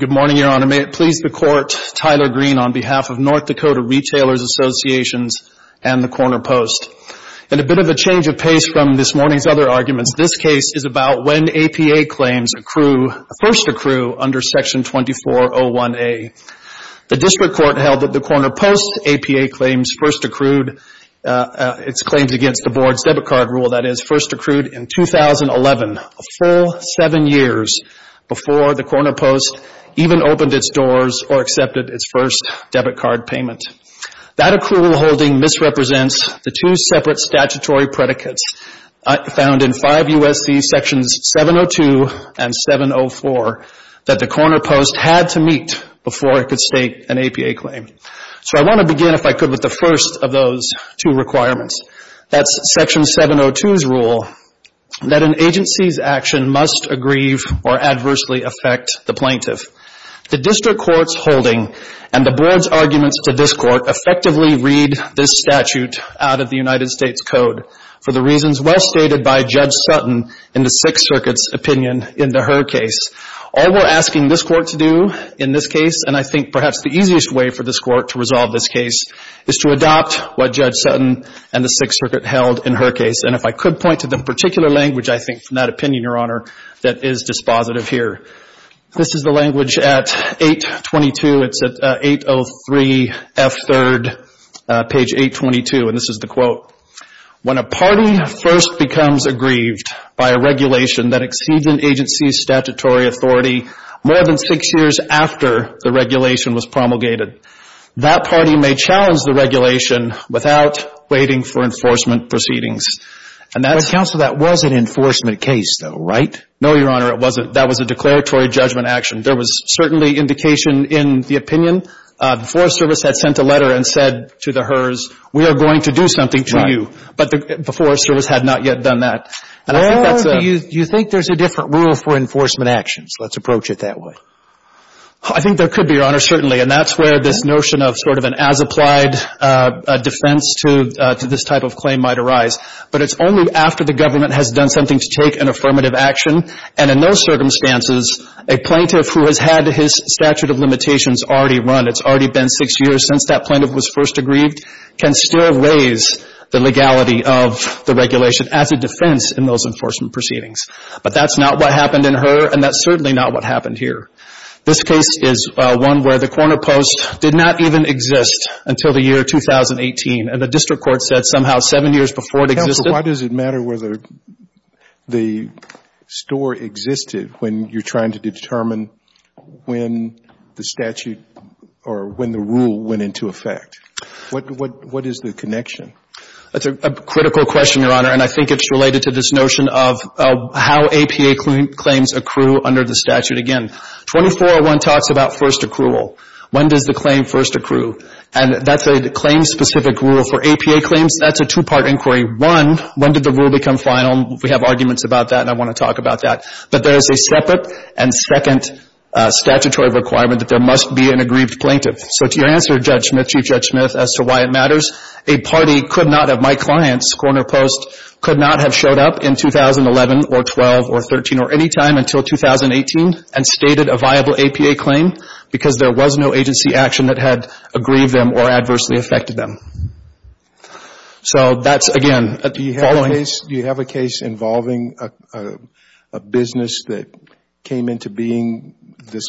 Good morning, Your Honor. May it please the Court, Tyler Green on behalf of North Dakota Retailers Association and The Corner Post. In a bit of a change of pace from this morning's other arguments, this case is about when APA claims first accrue under Section 2401A. The District Court held that The Corner Post's APA claims first accrued, its claims against the Board's debit card rule, that is, first accrued in 2011, a full seven years before The Corner Post even opened its doors or accepted its first debit card payment. That accrual holding misrepresents the two separate statutory predicates found in 5 U.S.C. Sections 702 and 704 that The Corner Post had to meet before it could state an APA claim. So I want to begin, if I could, with the first of those two requirements. That's Section 702's rule that an agency's action must aggrieve or adversely affect the plaintiff. The District Court agreed this statute out of the United States Code for the reasons well stated by Judge Sutton in the Sixth Circuit's opinion in the Hur case. All we're asking this Court to do in this case, and I think perhaps the easiest way for this Court to resolve this case, is to adopt what Judge Sutton and the Sixth Circuit held in Hur case. And if I could point to the particular language, I think, from that opinion, Your Honor, that is dispositive here. This is the language at 822. It's at 803 F. 3rd, page 822. And this is the quote. When a party first becomes aggrieved by a regulation that exceeds an agency's statutory authority more than six years after the regulation was promulgated, that party may challenge the regulation without waiting for enforcement proceedings. And that's... But, Counsel, that was an enforcement case, though, right? No, Your Honor, it wasn't. That was a declaratory judgment action. There was certainly indication in the opinion. The Forest Service had sent a letter and said to the Hurs, we are going to do something to you. But the Forest Service had not yet done that. And I think that's a... Well, do you think there's a different rule for enforcement actions? Let's approach it that way. I think there could be, Your Honor, certainly. And that's where this notion of sort of an as-applied defense to this type of claim might arise. But it's only after the government has done something to take an affirmative action. And in those circumstances, a plaintiff who has had his statute of limitations already run, it's already been six years since that plaintiff was first aggrieved, can still raise the legality of the regulation as a defense in those enforcement proceedings. But that's not what happened in Hur, and that's certainly not what happened here. This case is one where the corner post did not even exist until the year 2018. And the district court said somehow seven years before it existed... The store existed when you're trying to determine when the statute or when the rule went into effect. What is the connection? That's a critical question, Your Honor. And I think it's related to this notion of how APA claims accrue under the statute. Again, 2401 talks about first accrual. When does the claim first accrue? And that's a claim-specific rule. For APA claims, that's a two-part inquiry. One, when did the rule become final? We have arguments about that, and I want to talk about that. But there is a separate and second statutory requirement that there must be an aggrieved plaintiff. So to your answer, Judge Smith, Chief Judge Smith, as to why it matters, a party could not have... My client's corner post could not have showed up in 2011 or 12 or 13 or any time until 2018 and stated a viable APA claim because there was no agency action that had aggrieved them or adversely affected them. So that's, again, a following... Do you have a case involving a business that came into being this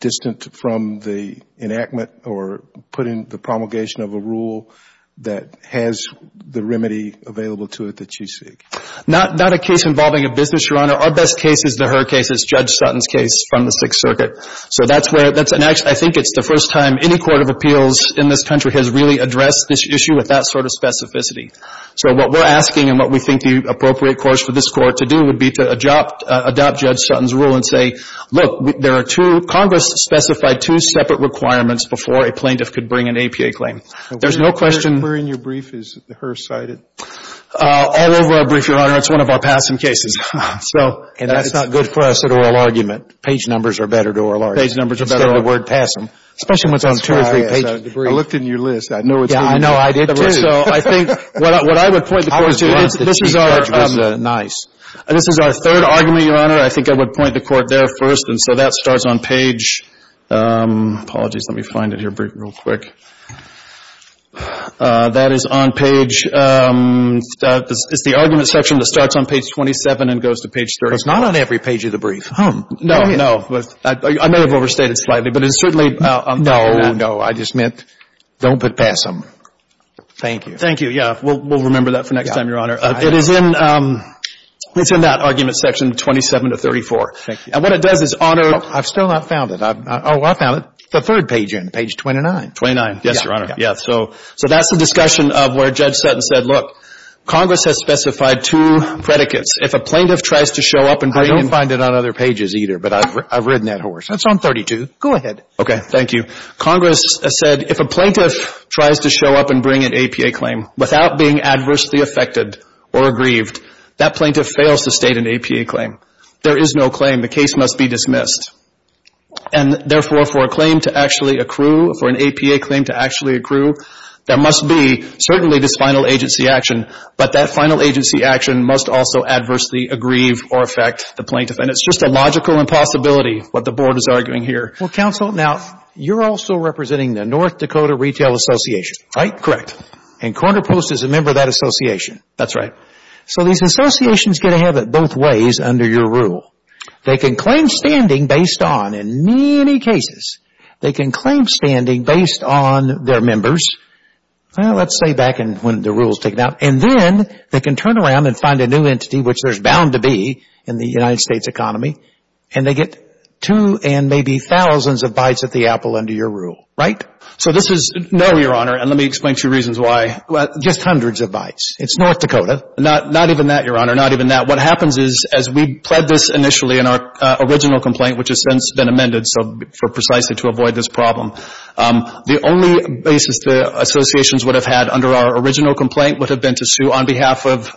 distant from the enactment or put in the promulgation of a rule that has the remedy available to it that you seek? Not a case involving a business, Your Honor. Our best case is the Hur case. It's Judge Sutton's case from the Sixth Circuit. So that's where... I think it's the first time any court of appeals in this country has really addressed this issue with that sort of specificity. So what we're asking and what we think the appropriate course for this Court to do would be to adopt Judge Sutton's rule and say, look, there are two — Congress specified two separate requirements before a plaintiff could bring an APA claim. There's no question... Where in your brief is the Hur cited? All over our brief, Your Honor. It's one of our PASM cases. So... And that's not good for us at oral argument. Page numbers are better at oral argument. Page numbers are better at oral argument. Instead of the word PASM. Especially when it's on two or three pages of the brief. That's why I looked in your list. I know it's in there. Yeah, I know. I did, too. So I think what I would point the Court to is this is our... I was glad that Chief Judge was nice. This is our third argument, Your Honor. I think I would point the Court there first. And so that starts on page — apologies, let me find it here real quick. That is on page — it's the argument section that starts on page 27 and goes to page 30. It's not on every page of the brief. No, no. I may have overstated slightly. But it's certainly on page — No, no. I just meant don't put PASM. Thank you. Thank you. Yeah. We'll remember that for next time, Your Honor. It is in — it's in that argument section, 27 to 34. Thank you. And what it does is, Honor — I've still not found it. Oh, I found it. The third page end, page 29. Twenty-nine. Yes, Your Honor. Yeah. So that's the discussion of where Judge Sutton said, look, Congress has specified two predicates. If a plaintiff tries to show up and bring — I don't find it on other pages either, but I've ridden that horse. That's on 32. Go ahead. Okay. Thank you. Congress said if a plaintiff tries to show up and bring an APA claim without being adversely affected or aggrieved, that plaintiff fails to state an APA claim. There is no claim. The case must be dismissed. And therefore, for a claim to actually accrue, for an APA claim to actually accrue, there must be certainly this final agency action. But that final agency action must also adversely aggrieve or affect the plaintiff. And it's just a logical impossibility, what the Board is arguing here. Well, Counsel, now, you're also representing the North Dakota Retail Association, right? Correct. And Corner Post is a member of that association. That's right. So these associations get ahead of it both ways under your rule. They can claim standing based on, in many cases, they can claim standing based on their members. Well, let's say back when the rule was taken out. And then they can turn around and find a new entity, which there's bound to be in the United States economy. And they get two and maybe thousands of bites at the apple under your rule, right? So this is no, Your Honor. And let me explain two reasons why. Just hundreds of bites. It's North Dakota. Not even that, Your Honor. Not even that. What happens is, as we pled this initially in our original complaint, which has since been amended, so for precisely to avoid this problem, the only basis the associations would have had under our original complaint would have been to sue on behalf of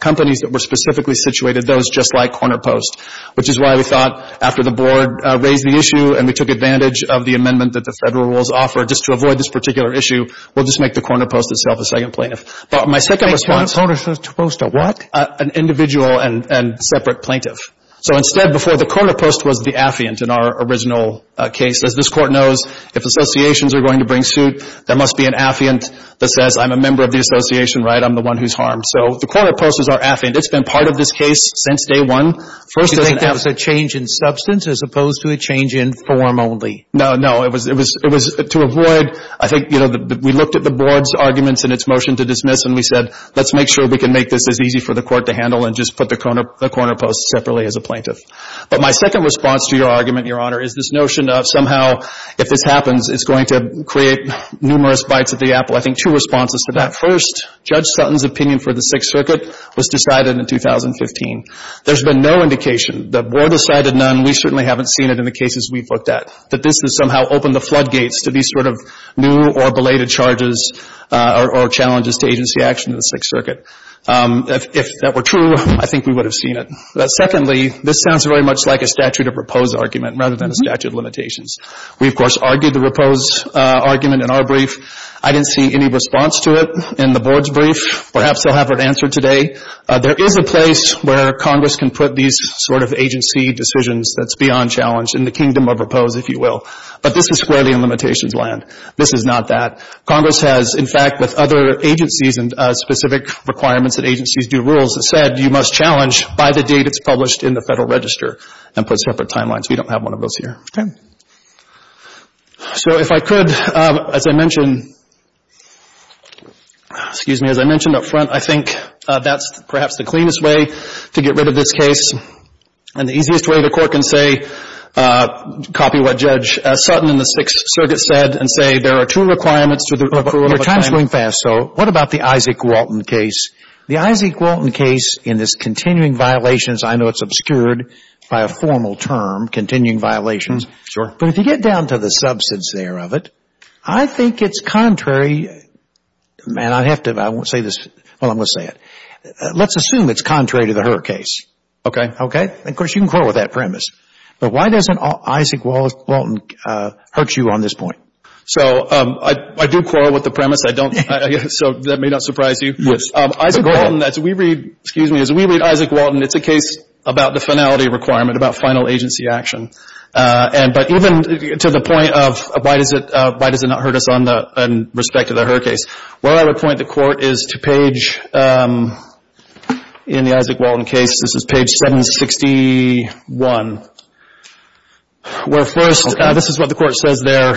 companies that were specifically situated, those just like Corner Post. Which is why we thought, after the board raised the issue and we took advantage of the amendment that the federal rules offer, just to avoid this particular issue, we'll just make the Corner Post itself a second plaintiff. But my second response. Corner Post a what? An individual and separate plaintiff. So instead, before, the Corner Post was the affiant in our original case. As this Court knows, if associations are going to bring suit, there must be an affiant that says, I'm a member of the association, right? I'm the one who's harmed. So the Corner Post is our affiant. It's been part of this case since day one. First, as an affiant. You think that was a change in substance as opposed to a change in form only? No, no. It was to avoid, I think, you know, we looked at the board's arguments in its motion to dismiss and we said, let's make sure we can make this as easy for the Court to handle and just put the Corner Post separately as a plaintiff. But my second response to your argument, Your Honor, is this notion of somehow if this happens, it's going to create numerous bites at the apple. I think two responses to that. First, Judge Sutton's opinion for the Sixth Circuit was decided in 2015. There's been no indication. The board decided none. We certainly haven't seen it in the cases we've looked at, that this has somehow opened the floodgates to these sort of new or belated charges or challenges to agency action in the Sixth Circuit. If that were true, I think we would have seen it. Secondly, this sounds very much like a statute of repose argument rather than a statute of limitations. We, of course, argued the repose argument in our brief. I didn't see any response to it in the board's brief. Perhaps they'll have an answer today. There is a place where Congress can put these sort of agency decisions that's beyond challenge in the kingdom of repose, if you will. But this is squarely in limitations land. This is not that. Congress has, in fact, with other agencies and specific requirements that agencies do rules, has said you must challenge by the date it's published in the Federal Register and put separate timelines. We don't have one of those here. Okay. So if I could, as I mentioned, excuse me, as I mentioned up front, I think that's perhaps the cleanest way to get rid of this case. And the easiest way the Court can say, copy what Judge Sutton in the Sixth Circuit said and say there are two requirements to the accrual of a time. Your time's going fast, so what about the Isaac Walton case? The Isaac Walton case in this continuing violations, I know it's obscured by a formal term, continuing violations. Sure. But if you get down to the substance there of it, I think it's contrary. Man, I have to, I won't say this, well, I'm going to say it. Let's assume it's contrary to the Hur case. Okay. Okay. Of course, you can quarrel with that premise. But why doesn't Isaac Walton hurt you on this point? So I do quarrel with the premise. I don't, so that may not surprise you. Yes. Isaac Walton, as we read, excuse me, as we read Isaac Walton, it's a case about the finality requirement, about final agency action. And, but even to the point of why does it, why does it not hurt us on the, in respect to the Hur case? Well, I would point the Court is to page, in the Isaac Walton case, this is page 761. Where first, this is what the Court says there.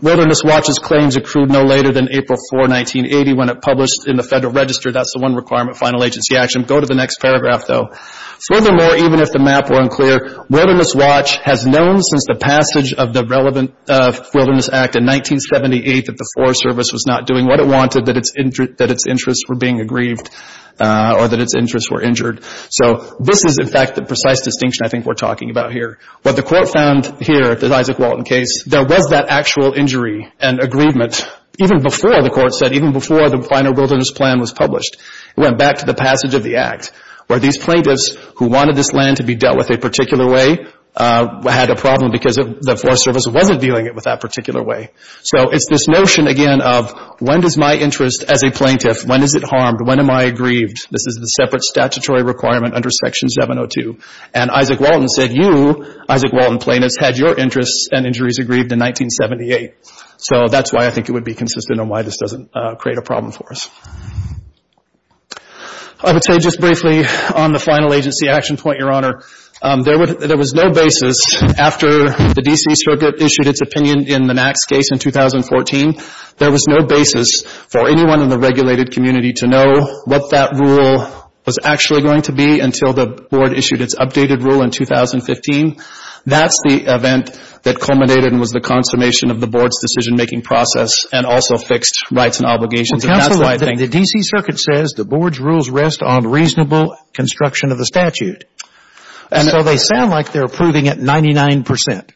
Wilderness Watch's claims accrued no later than April 4, 1980, when it published in the Federal Register. That's the one requirement, final agency action. Go to the next paragraph, though. Furthermore, even if the map were unclear, Wilderness Watch has known since the passage of the relevant Wilderness Act in 1978 that the Forest Service was not doing what it wanted, that its interests were being aggrieved, or that its interests were injured. So this is, in fact, the precise distinction I think we're talking about here. What the Court found here, the Isaac Walton case, there was that actual injury and aggrievement even before, the Court said, even before the final Wilderness Plan was published. It went back to the passage of the Act, where these plaintiffs who wanted this land to be dealt with a particular way had a problem because the Forest Service wasn't dealing it with that particular way. So it's this notion, again, of when does my interest as a plaintiff, when is it harmed, when am I aggrieved? This is the separate statutory requirement under Section 702. And Isaac Walton said, you, Isaac Walton plaintiffs, had your interests and injuries aggrieved in 1978. So that's why I think it would be consistent on why this doesn't create a problem for us. I would say just briefly on the final agency action point, Your Honor, there was no basis after the D.C. Circuit issued its opinion in the Max case in 2014, there was no basis for anyone in the regulated community to know what that rule was actually going to be until the Board issued its updated rule in 2015. That's the event that culminated and was the consummation of the Board's decision-making process and also fixed rights and obligations. And that's why I think the D.C. Circuit says the Board's rules rest on reasonable construction of the statute. And so they sound like they're approving it 99 percent.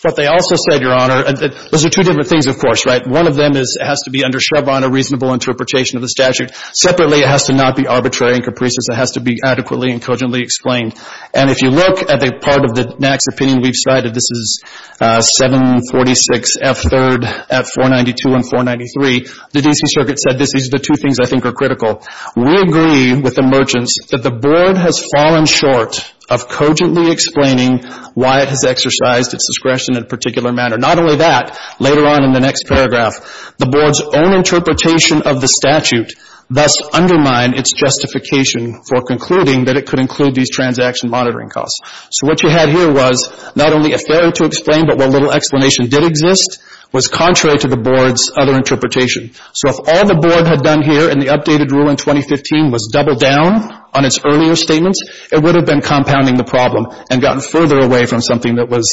But they also said, Your Honor, those are two different things, of course, right? One of them has to be under Schraban, a reasonable interpretation of the statute. Separately, it has to not be arbitrary and capricious. It has to be adequately and cogently explained. And if you look at a part of the Max opinion we've cited, this is 746F3rd at 492 and 493, the D.C. Circuit said these are the two things I think are critical. We agree with the merchants that the Board has fallen short of cogently explaining why it has exercised its discretion in a particular manner. Not only that, later on in the next paragraph, the Board's own interpretation of the statute thus undermined its justification for concluding that it could include these transaction monitoring costs. So what you had here was not only a failure to explain, but what little explanation did exist was contrary to the Board's other interpretation. So if all the Board had done here in the updated rule in 2015 was double down on its earlier statements, it would have been compounding the problem and gotten further away from something that was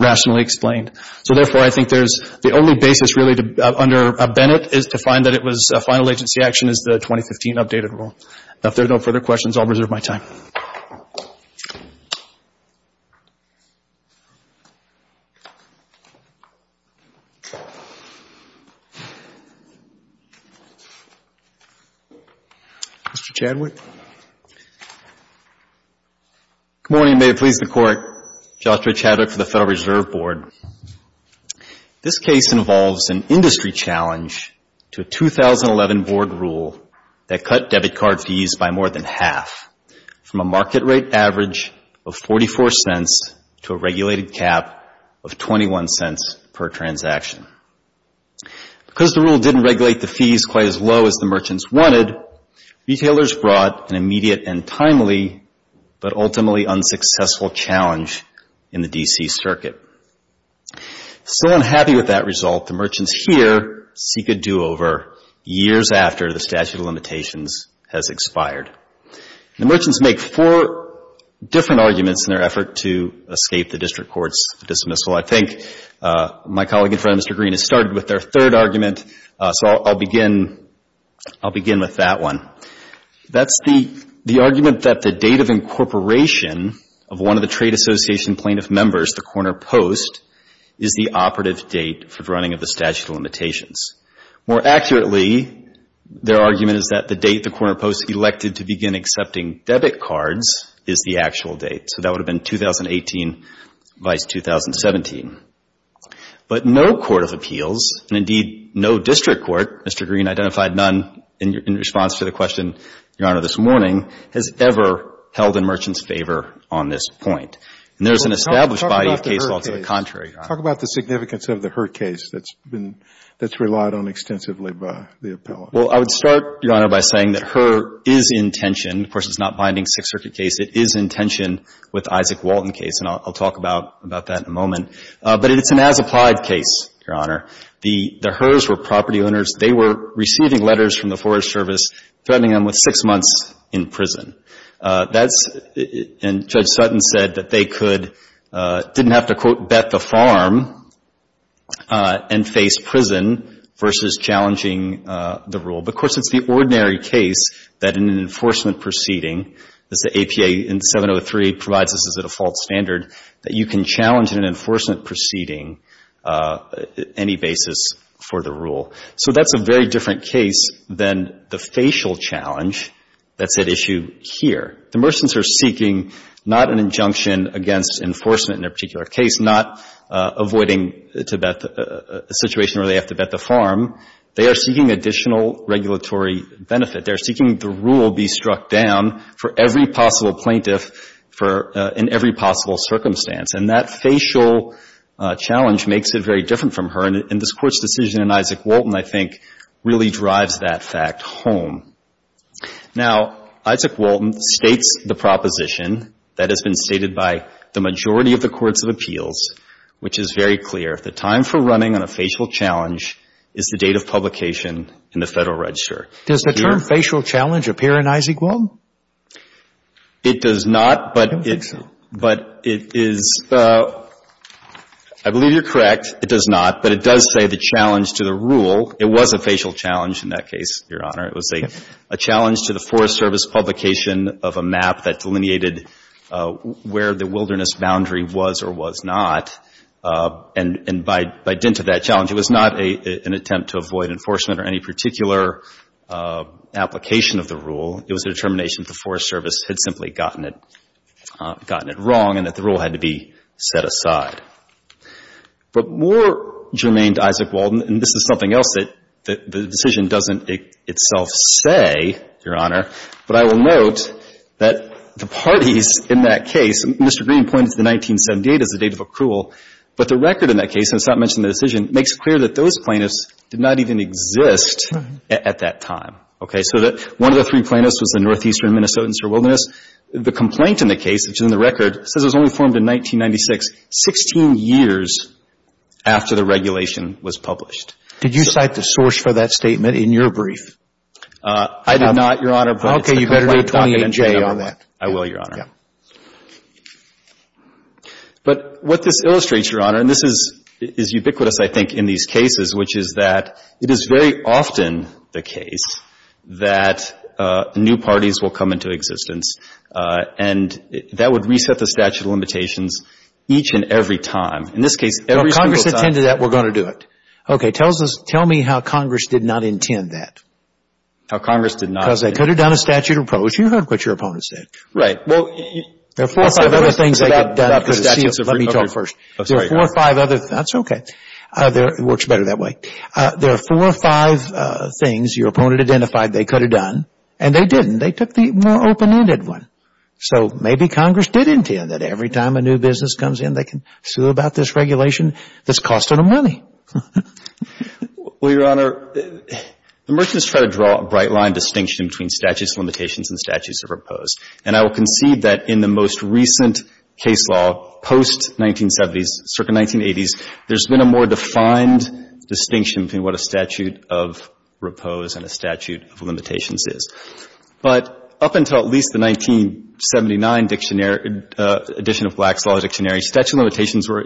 rationally explained. So therefore, I think there's the only basis really under Bennett is to find that it was a final agency action is the 2015 updated rule. If there are no further questions, I'll reserve my time. Mr. Chadwick. Good morning, and may it please the Court. Joshua Chadwick for the Federal Reserve Board. This case involves an industry challenge to a 2011 Board rule that cut debit card fees by more than half, from a market rate average of 44 cents to a regulated cap of 21 cents per transaction. Because the rule didn't regulate the fees quite as low as the merchants wanted, retailers brought an immediate and timely, but ultimately unsuccessful challenge in the D.C. circuit. Still unhappy with that result, the merchants here seek a do-over years after the statute of limitations has expired. The merchants make four different arguments in their effort to escape the district court's dismissal. I think my colleague in front of Mr. Green has started with their third argument, so I'll begin with that one. That's the argument that the date of incorporation of one of the trade association plaintiff members, the Corner Post, is the operative date for the running of the statute of limitations. More accurately, their argument is that the date the Corner Post elected to begin accepting debit cards is the actual date. So that would have been 2018 v. 2017. But no court of appeals, and indeed no district court, Mr. Green identified none in response to the question, Your Honor, this morning, has ever held a merchant's favor on this point. And there's an established body of case law to the contrary. Talk about the significance of the H.E.R. case that's been, that's relied on extensively by the appellate. Well, I would start, Your Honor, by saying that H.E.R. is in tension. Of course, it's not binding Sixth Circuit case. It is in tension with the Isaac Walton case, and I'll talk about that in a moment. But it's an as-applied case, Your Honor. The H.E.R.s were property owners. They were receiving letters from the Forest Service threatening them with six months in prison. That's, and Judge Sutton said that they could, didn't have to, quote, bet the farm and face prison versus challenging the rule. But, of course, it's the ordinary case that in an enforcement proceeding, as the APA in 703 provides this as a default standard, that you can challenge in an enforcement proceeding any basis for the rule. So that's a very different case than the facial challenge that's at issue here. The mercenaries are seeking not an injunction against enforcement in their particular case, not avoiding to bet the situation where they have to bet the farm. They are seeking additional regulatory benefit. They are seeking the rule be struck down for every possible plaintiff for, in every possible circumstance. And this Court's decision in Isaac Walton, I think, really drives that fact home. Now, Isaac Walton states the proposition that has been stated by the majority of the courts of appeals, which is very clear. The time for running on a facial challenge is the date of publication in the Federal Register. Does the term facial challenge appear in Isaac Walton? It does not, but it is, I believe you're correct, it does not. But it does say the challenge to the rule. It was a facial challenge in that case, Your Honor. It was a challenge to the Forest Service publication of a map that delineated where the wilderness boundary was or was not. And by dint of that challenge, it was not an attempt to avoid enforcement or any particular application of the rule. It was a determination that the Forest Service had simply gotten it wrong and that the rule had to be set aside. But more germane to Isaac Walton, and this is something else that the decision doesn't itself say, Your Honor, but I will note that the parties in that case, Mr. Green points to 1978 as the date of accrual, but the record in that case, and it's not mentioned in the decision, makes it clear that those plaintiffs did not even exist at that time. Okay. So that one of the three plaintiffs was a northeastern Minnesotan, Sir Wilderness. The complaint in the case, which is in the record, says it was only formed in 1996, 16 years after the regulation was published. Did you cite the source for that statement in your brief? I did not, Your Honor, but it's the Complaint Document J on that. I will, Your Honor. But what this illustrates, Your Honor, and this is ubiquitous, I think, in these cases, which is that it is very often the case that new parties will come into existence and that would reset the statute of limitations each and every time. In this case, every single time. If Congress intended that, we're going to do it. Okay. Tell me how Congress did not intend that. How Congress did not. Because they could have done a statute of pros. You heard what your opponents said. Right. Well, there are four or five other things they could have done. Let me talk first. There are four or five other. That's okay. It works better that way. There are four or five things your opponent identified they could have done, and they didn't. They took the more open-ended one. So maybe Congress did intend that. Every time a new business comes in, they can sue about this regulation that's costing them money. Well, Your Honor, the merchants try to draw a bright-line distinction between statutes of limitations and statutes of repose. And I will concede that in the most recent case law, post-1970s, circa 1980s, there's been a more defined distinction between what a statute of repose and a statute of limitations is. But up until at least the 1979 dictionary, edition of Black's Law Dictionary, statute of limitations were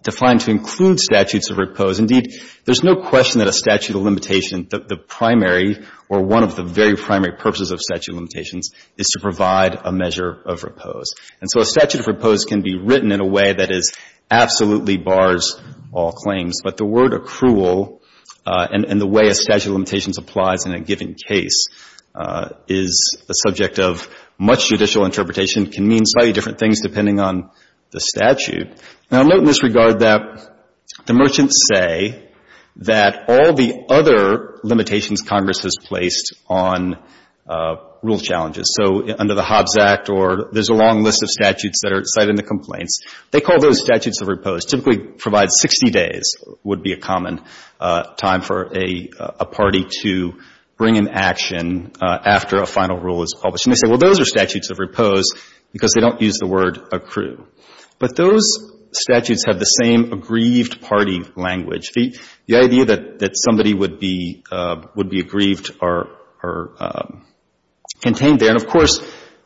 defined to include statutes of repose. Indeed, there's no question that a statute of limitation, the primary or one of the very primary purposes of statute of limitations is to provide a measure of repose. And so a statute of repose can be written in a way that is absolutely bars all claims. But the word accrual and the way a statute of limitations applies in a given case is a subject of much judicial interpretation, can mean slightly different things depending on the statute. Now, note in this regard that the merchants say that all the other limitations Congress has placed on rule challenges. So under the Hobbs Act or there's a long list of statutes that are cited in the complaints, they call those statutes of repose. Typically provide 60 days would be a common time for a party to bring an action after a final rule is published. And they say, well, those are statutes of repose because they don't use the word accrue. But those statutes have the same aggrieved party language. The idea that somebody would be aggrieved are contained there. And of course,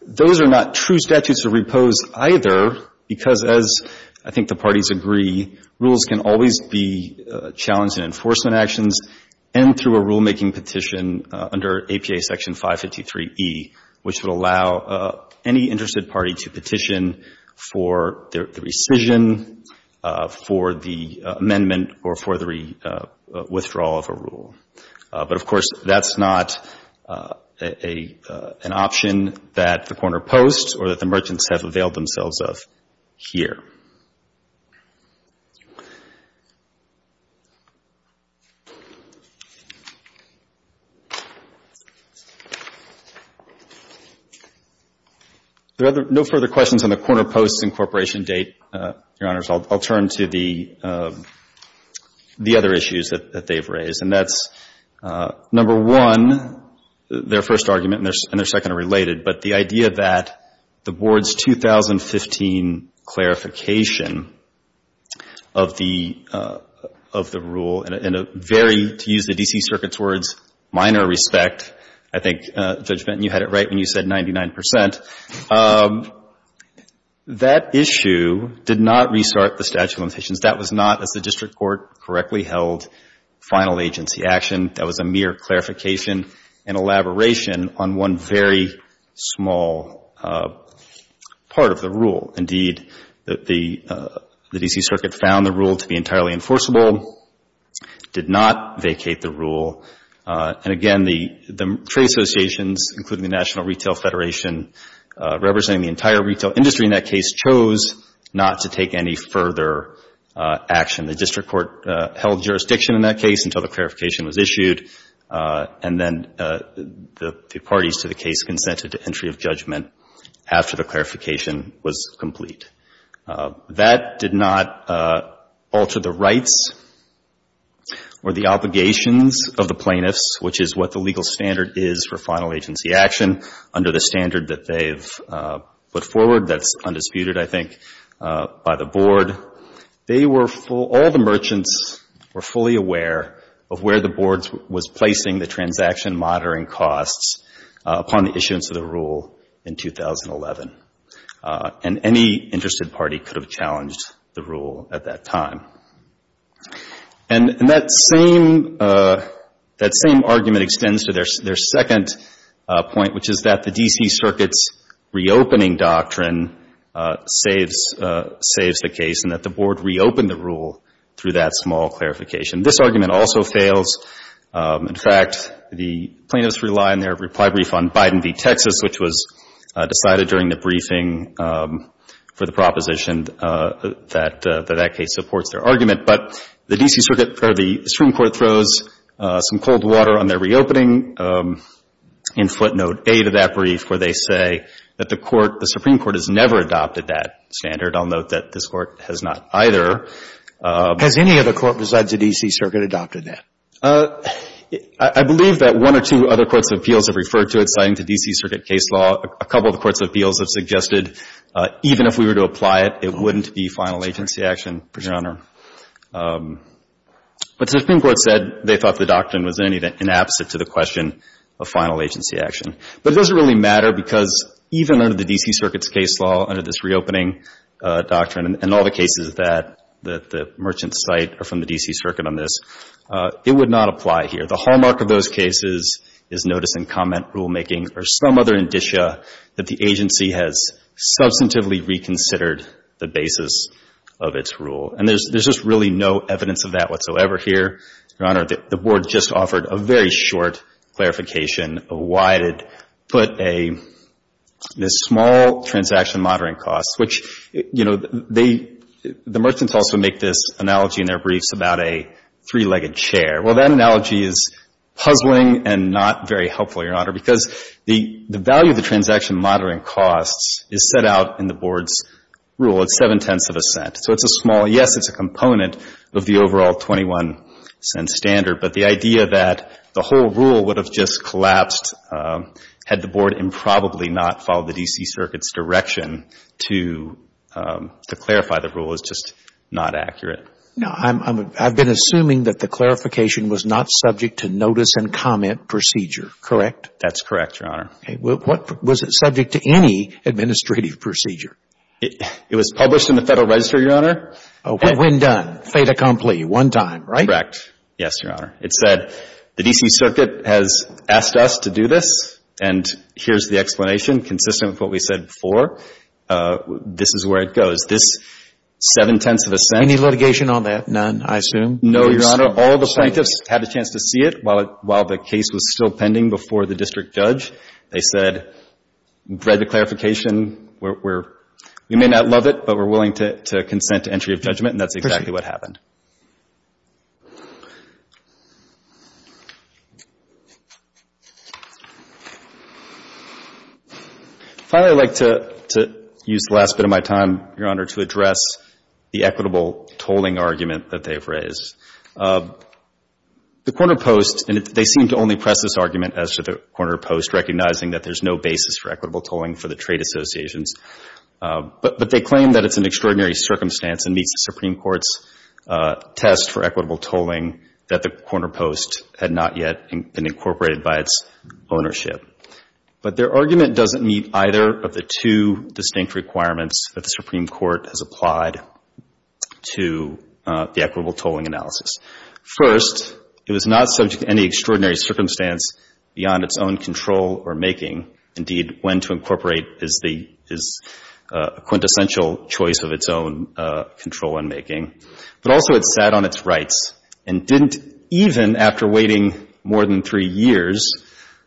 those are not true statutes of repose either because as I think the rules can always be challenged in enforcement actions and through a rulemaking petition under APA section 553E, which would allow any interested party to petition for the rescission, for the amendment, or for the withdrawal of a rule. But of course, that's not an option that the corner posts or that the merchants have availed themselves of here. There are no further questions on the corner posts incorporation date, Your Honors. I'll turn to the other issues that they've raised, and that's, number one, their first argument and their second are related, but the idea that the Board's 2015 clarification of the rule in a very, to use the D.C. Circuit's words, minor respect, I think, Judge Benton, you had it right when you said 99 percent, that issue did not restart the statute of limitations. That was not, as the district court correctly held, final agency action. That was a mere clarification and elaboration on one very small part of the rule. Indeed, the D.C. Circuit found the rule to be entirely enforceable, did not vacate the rule, and again, the trade associations, including the National Retail Federation representing the entire retail industry in that case, chose not to take any further action. The district court held jurisdiction in that case until the clarification was issued, and then the parties to the case consented to entry of judgment after the clarification was complete. That did not alter the rights or the obligations of the plaintiffs, which is what the legal standard is for final agency action under the standard that they've put forward that's undisputed, I think, by the Board. All the merchants were fully aware of where the Board was placing the transaction monitoring costs upon the issuance of the rule in 2011, and any interested party could have challenged the rule at that time. And that same argument extends to their second point, which is that the D.C. Circuit's reopening doctrine saves the case and that the Board reopened the rule through that small clarification. This argument also fails. In fact, the plaintiffs rely on their reply brief on Biden v. Texas, which was decided during the briefing for the proposition that that case supports their argument. But the D.C. Circuit or the Supreme Court throws some cold water on their reopening in footnote 8 of that brief, where they say that the Court, the Supreme Court, has never adopted that standard. I'll note that this Court has not either. Has any other court besides the D.C. Circuit adopted that? I believe that one or two other courts of appeals have referred to it, citing the D.C. Circuit case law. A couple of the courts of appeals have suggested even if we were to apply it, it wouldn't be final agency action, Your Honor. But the Supreme Court said they thought the doctrine was in any event inapposite to the question of final agency action. But it doesn't really matter because even under the D.C. Circuit's case law, under this reopening doctrine, and all the cases that the merchants cite are from the D.C. Circuit on this, it would not apply here. The hallmark of those cases is notice and comment rulemaking or some other indicia that the agency has substantively reconsidered the basis of its rule. And there's just really no evidence of that whatsoever here, Your Honor. The Board just offered a very short clarification of why it had put a small transaction monitoring cost, which, you know, they — the merchants also make this analogy in their briefs about a three-legged chair. Well, that analogy is puzzling and not very helpful, Your Honor, because the value of the transaction monitoring costs is set out in the Board's rule. It's seven-tenths of a cent. So it's a small — yes, it's a component of the overall 21-cent standard. But the idea that the whole rule would have just collapsed had the Board improbably not followed the D.C. Circuit's direction to clarify the rule is just not accurate. No. I've been assuming that the clarification was not subject to notice and comment procedure, correct? That's correct, Your Honor. Okay. What — was it subject to any administrative procedure? It was published in the Federal Register, Your Honor. When done. Fait accompli. One time. Right? Correct. Yes, Your Honor. It said, the D.C. Circuit has asked us to do this, and here's the explanation, consistent with what we said before. This is where it goes. This seven-tenths of a cent. Any litigation on that? None, I assume? No, Your Honor. All the plaintiffs had a chance to see it while the case was still pending before the district judge. They said, read the clarification, we're — we may not love it, but we're willing to consent to entry of judgment. And that's exactly what happened. Finally, I'd like to — to use the last bit of my time, Your Honor, to address the equitable tolling argument that they've raised. The Corner Post, and they seem to only press this argument as to the Corner Post, recognizing that there's no basis for equitable tolling for the trade associations. But they claim that it's an extraordinary circumstance and meets the Supreme Court's test for equitable tolling that the Corner Post had not yet been incorporated by its ownership. But their argument doesn't meet either of the two distinct requirements that the Supreme Court has applied to the equitable tolling analysis. First, it was not subject to any extraordinary circumstance beyond its own control or making, which is a quintessential choice of its own control and making. But also, it sat on its rights and didn't — even after waiting more than three years,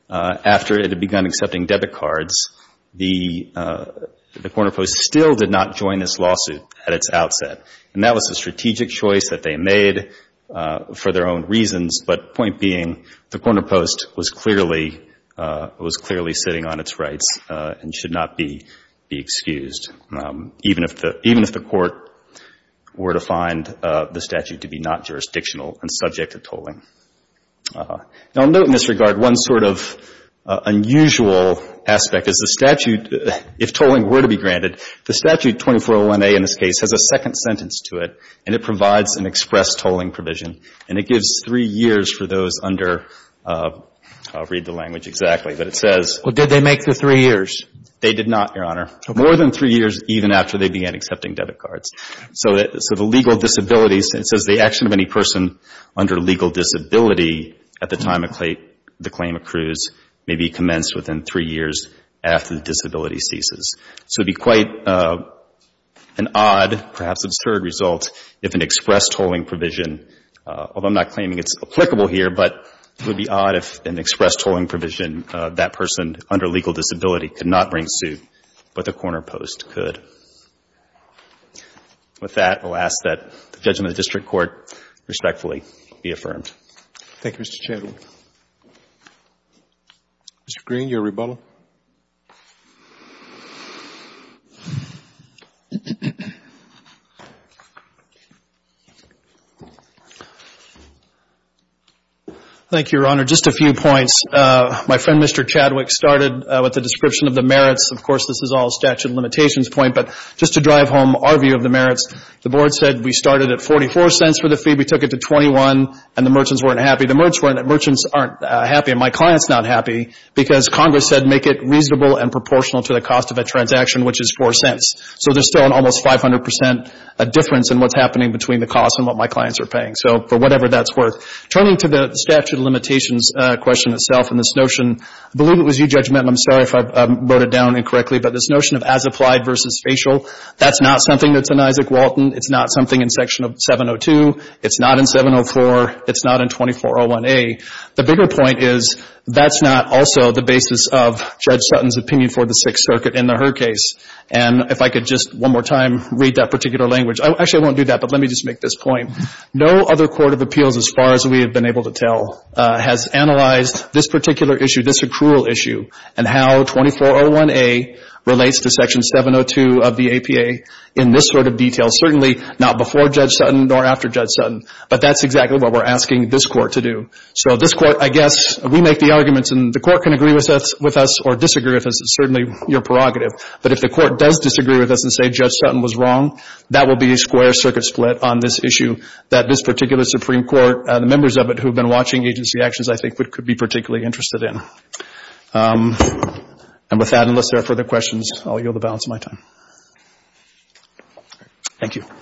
after it had begun accepting debit cards, the Corner Post still did not join this lawsuit at its outset. And that was a strategic choice that they made for their own reasons, but point being, the Corner Post was clearly — was clearly sitting on its rights and should not be excused, even if the — even if the Court were to find the statute to be not jurisdictional and subject to tolling. Now, note in this regard, one sort of unusual aspect is the statute — if tolling were to be granted, the statute 2401A in this case has a second sentence to it, and it provides an express tolling provision. And it gives three years for those under — I'll read the language exactly, but it says — Well, did they make the three years? They did not, Your Honor. More than three years, even after they began accepting debit cards. So the legal disability — it says the action of any person under legal disability at the time the claim accrues may be commenced within three years after the disability ceases. So it would be quite an odd, perhaps absurd, result if an express tolling provision — although I'm not claiming it's applicable here, but it would be odd if an express tolling provision for a person under legal disability could not bring suit, but the corner post could. With that, I'll ask that the judgment of the district court respectfully be affirmed. Thank you, Mr. Chadwick. Mr. Green, your rebuttal. Thank you, Your Honor. Just a few points. My friend, Mr. Chadwick, started with the description of the merits. Of course, this is all a statute of limitations point, but just to drive home our view of the merits, the board said we started at 44 cents for the fee. We took it to 21, and the merchants weren't happy. The merchants aren't happy, and my client's not happy because Congress said make it reasonable and proportional to the cost of a transaction, which is 4 cents. So there's still an almost 500 percent difference in what's happening between the cost and what my clients are paying. So for whatever that's worth. Turning to the statute of limitations question itself and this notion, I believe it was you, Judge Menten. I'm sorry if I wrote it down incorrectly, but this notion of as applied versus facial, that's not something that's in Isaac Walton. It's not something in Section 702. It's not in 704. It's not in 2401A. The bigger point is that's not also the basis of Judge Sutton's opinion for the Sixth Circuit in the Hur case. And if I could just one more time read that particular language. Actually, I won't do that, but let me just make this point. No other court of appeals, as far as we have been able to tell, has analyzed this particular issue, this accrual issue, and how 2401A relates to Section 702 of the APA in this sort of detail. Certainly not before Judge Sutton nor after Judge Sutton. But that's exactly what we're asking this Court to do. So this Court, I guess, we make the arguments and the Court can agree with us or disagree with us. It's certainly your prerogative. But if the Court does disagree with us and say Judge Sutton was wrong, that will be a wire circuit split on this issue that this particular Supreme Court, the members of it who have been watching agency actions, I think could be particularly interested in. And with that, unless there are further questions, I'll yield the balance of my time. Thank you.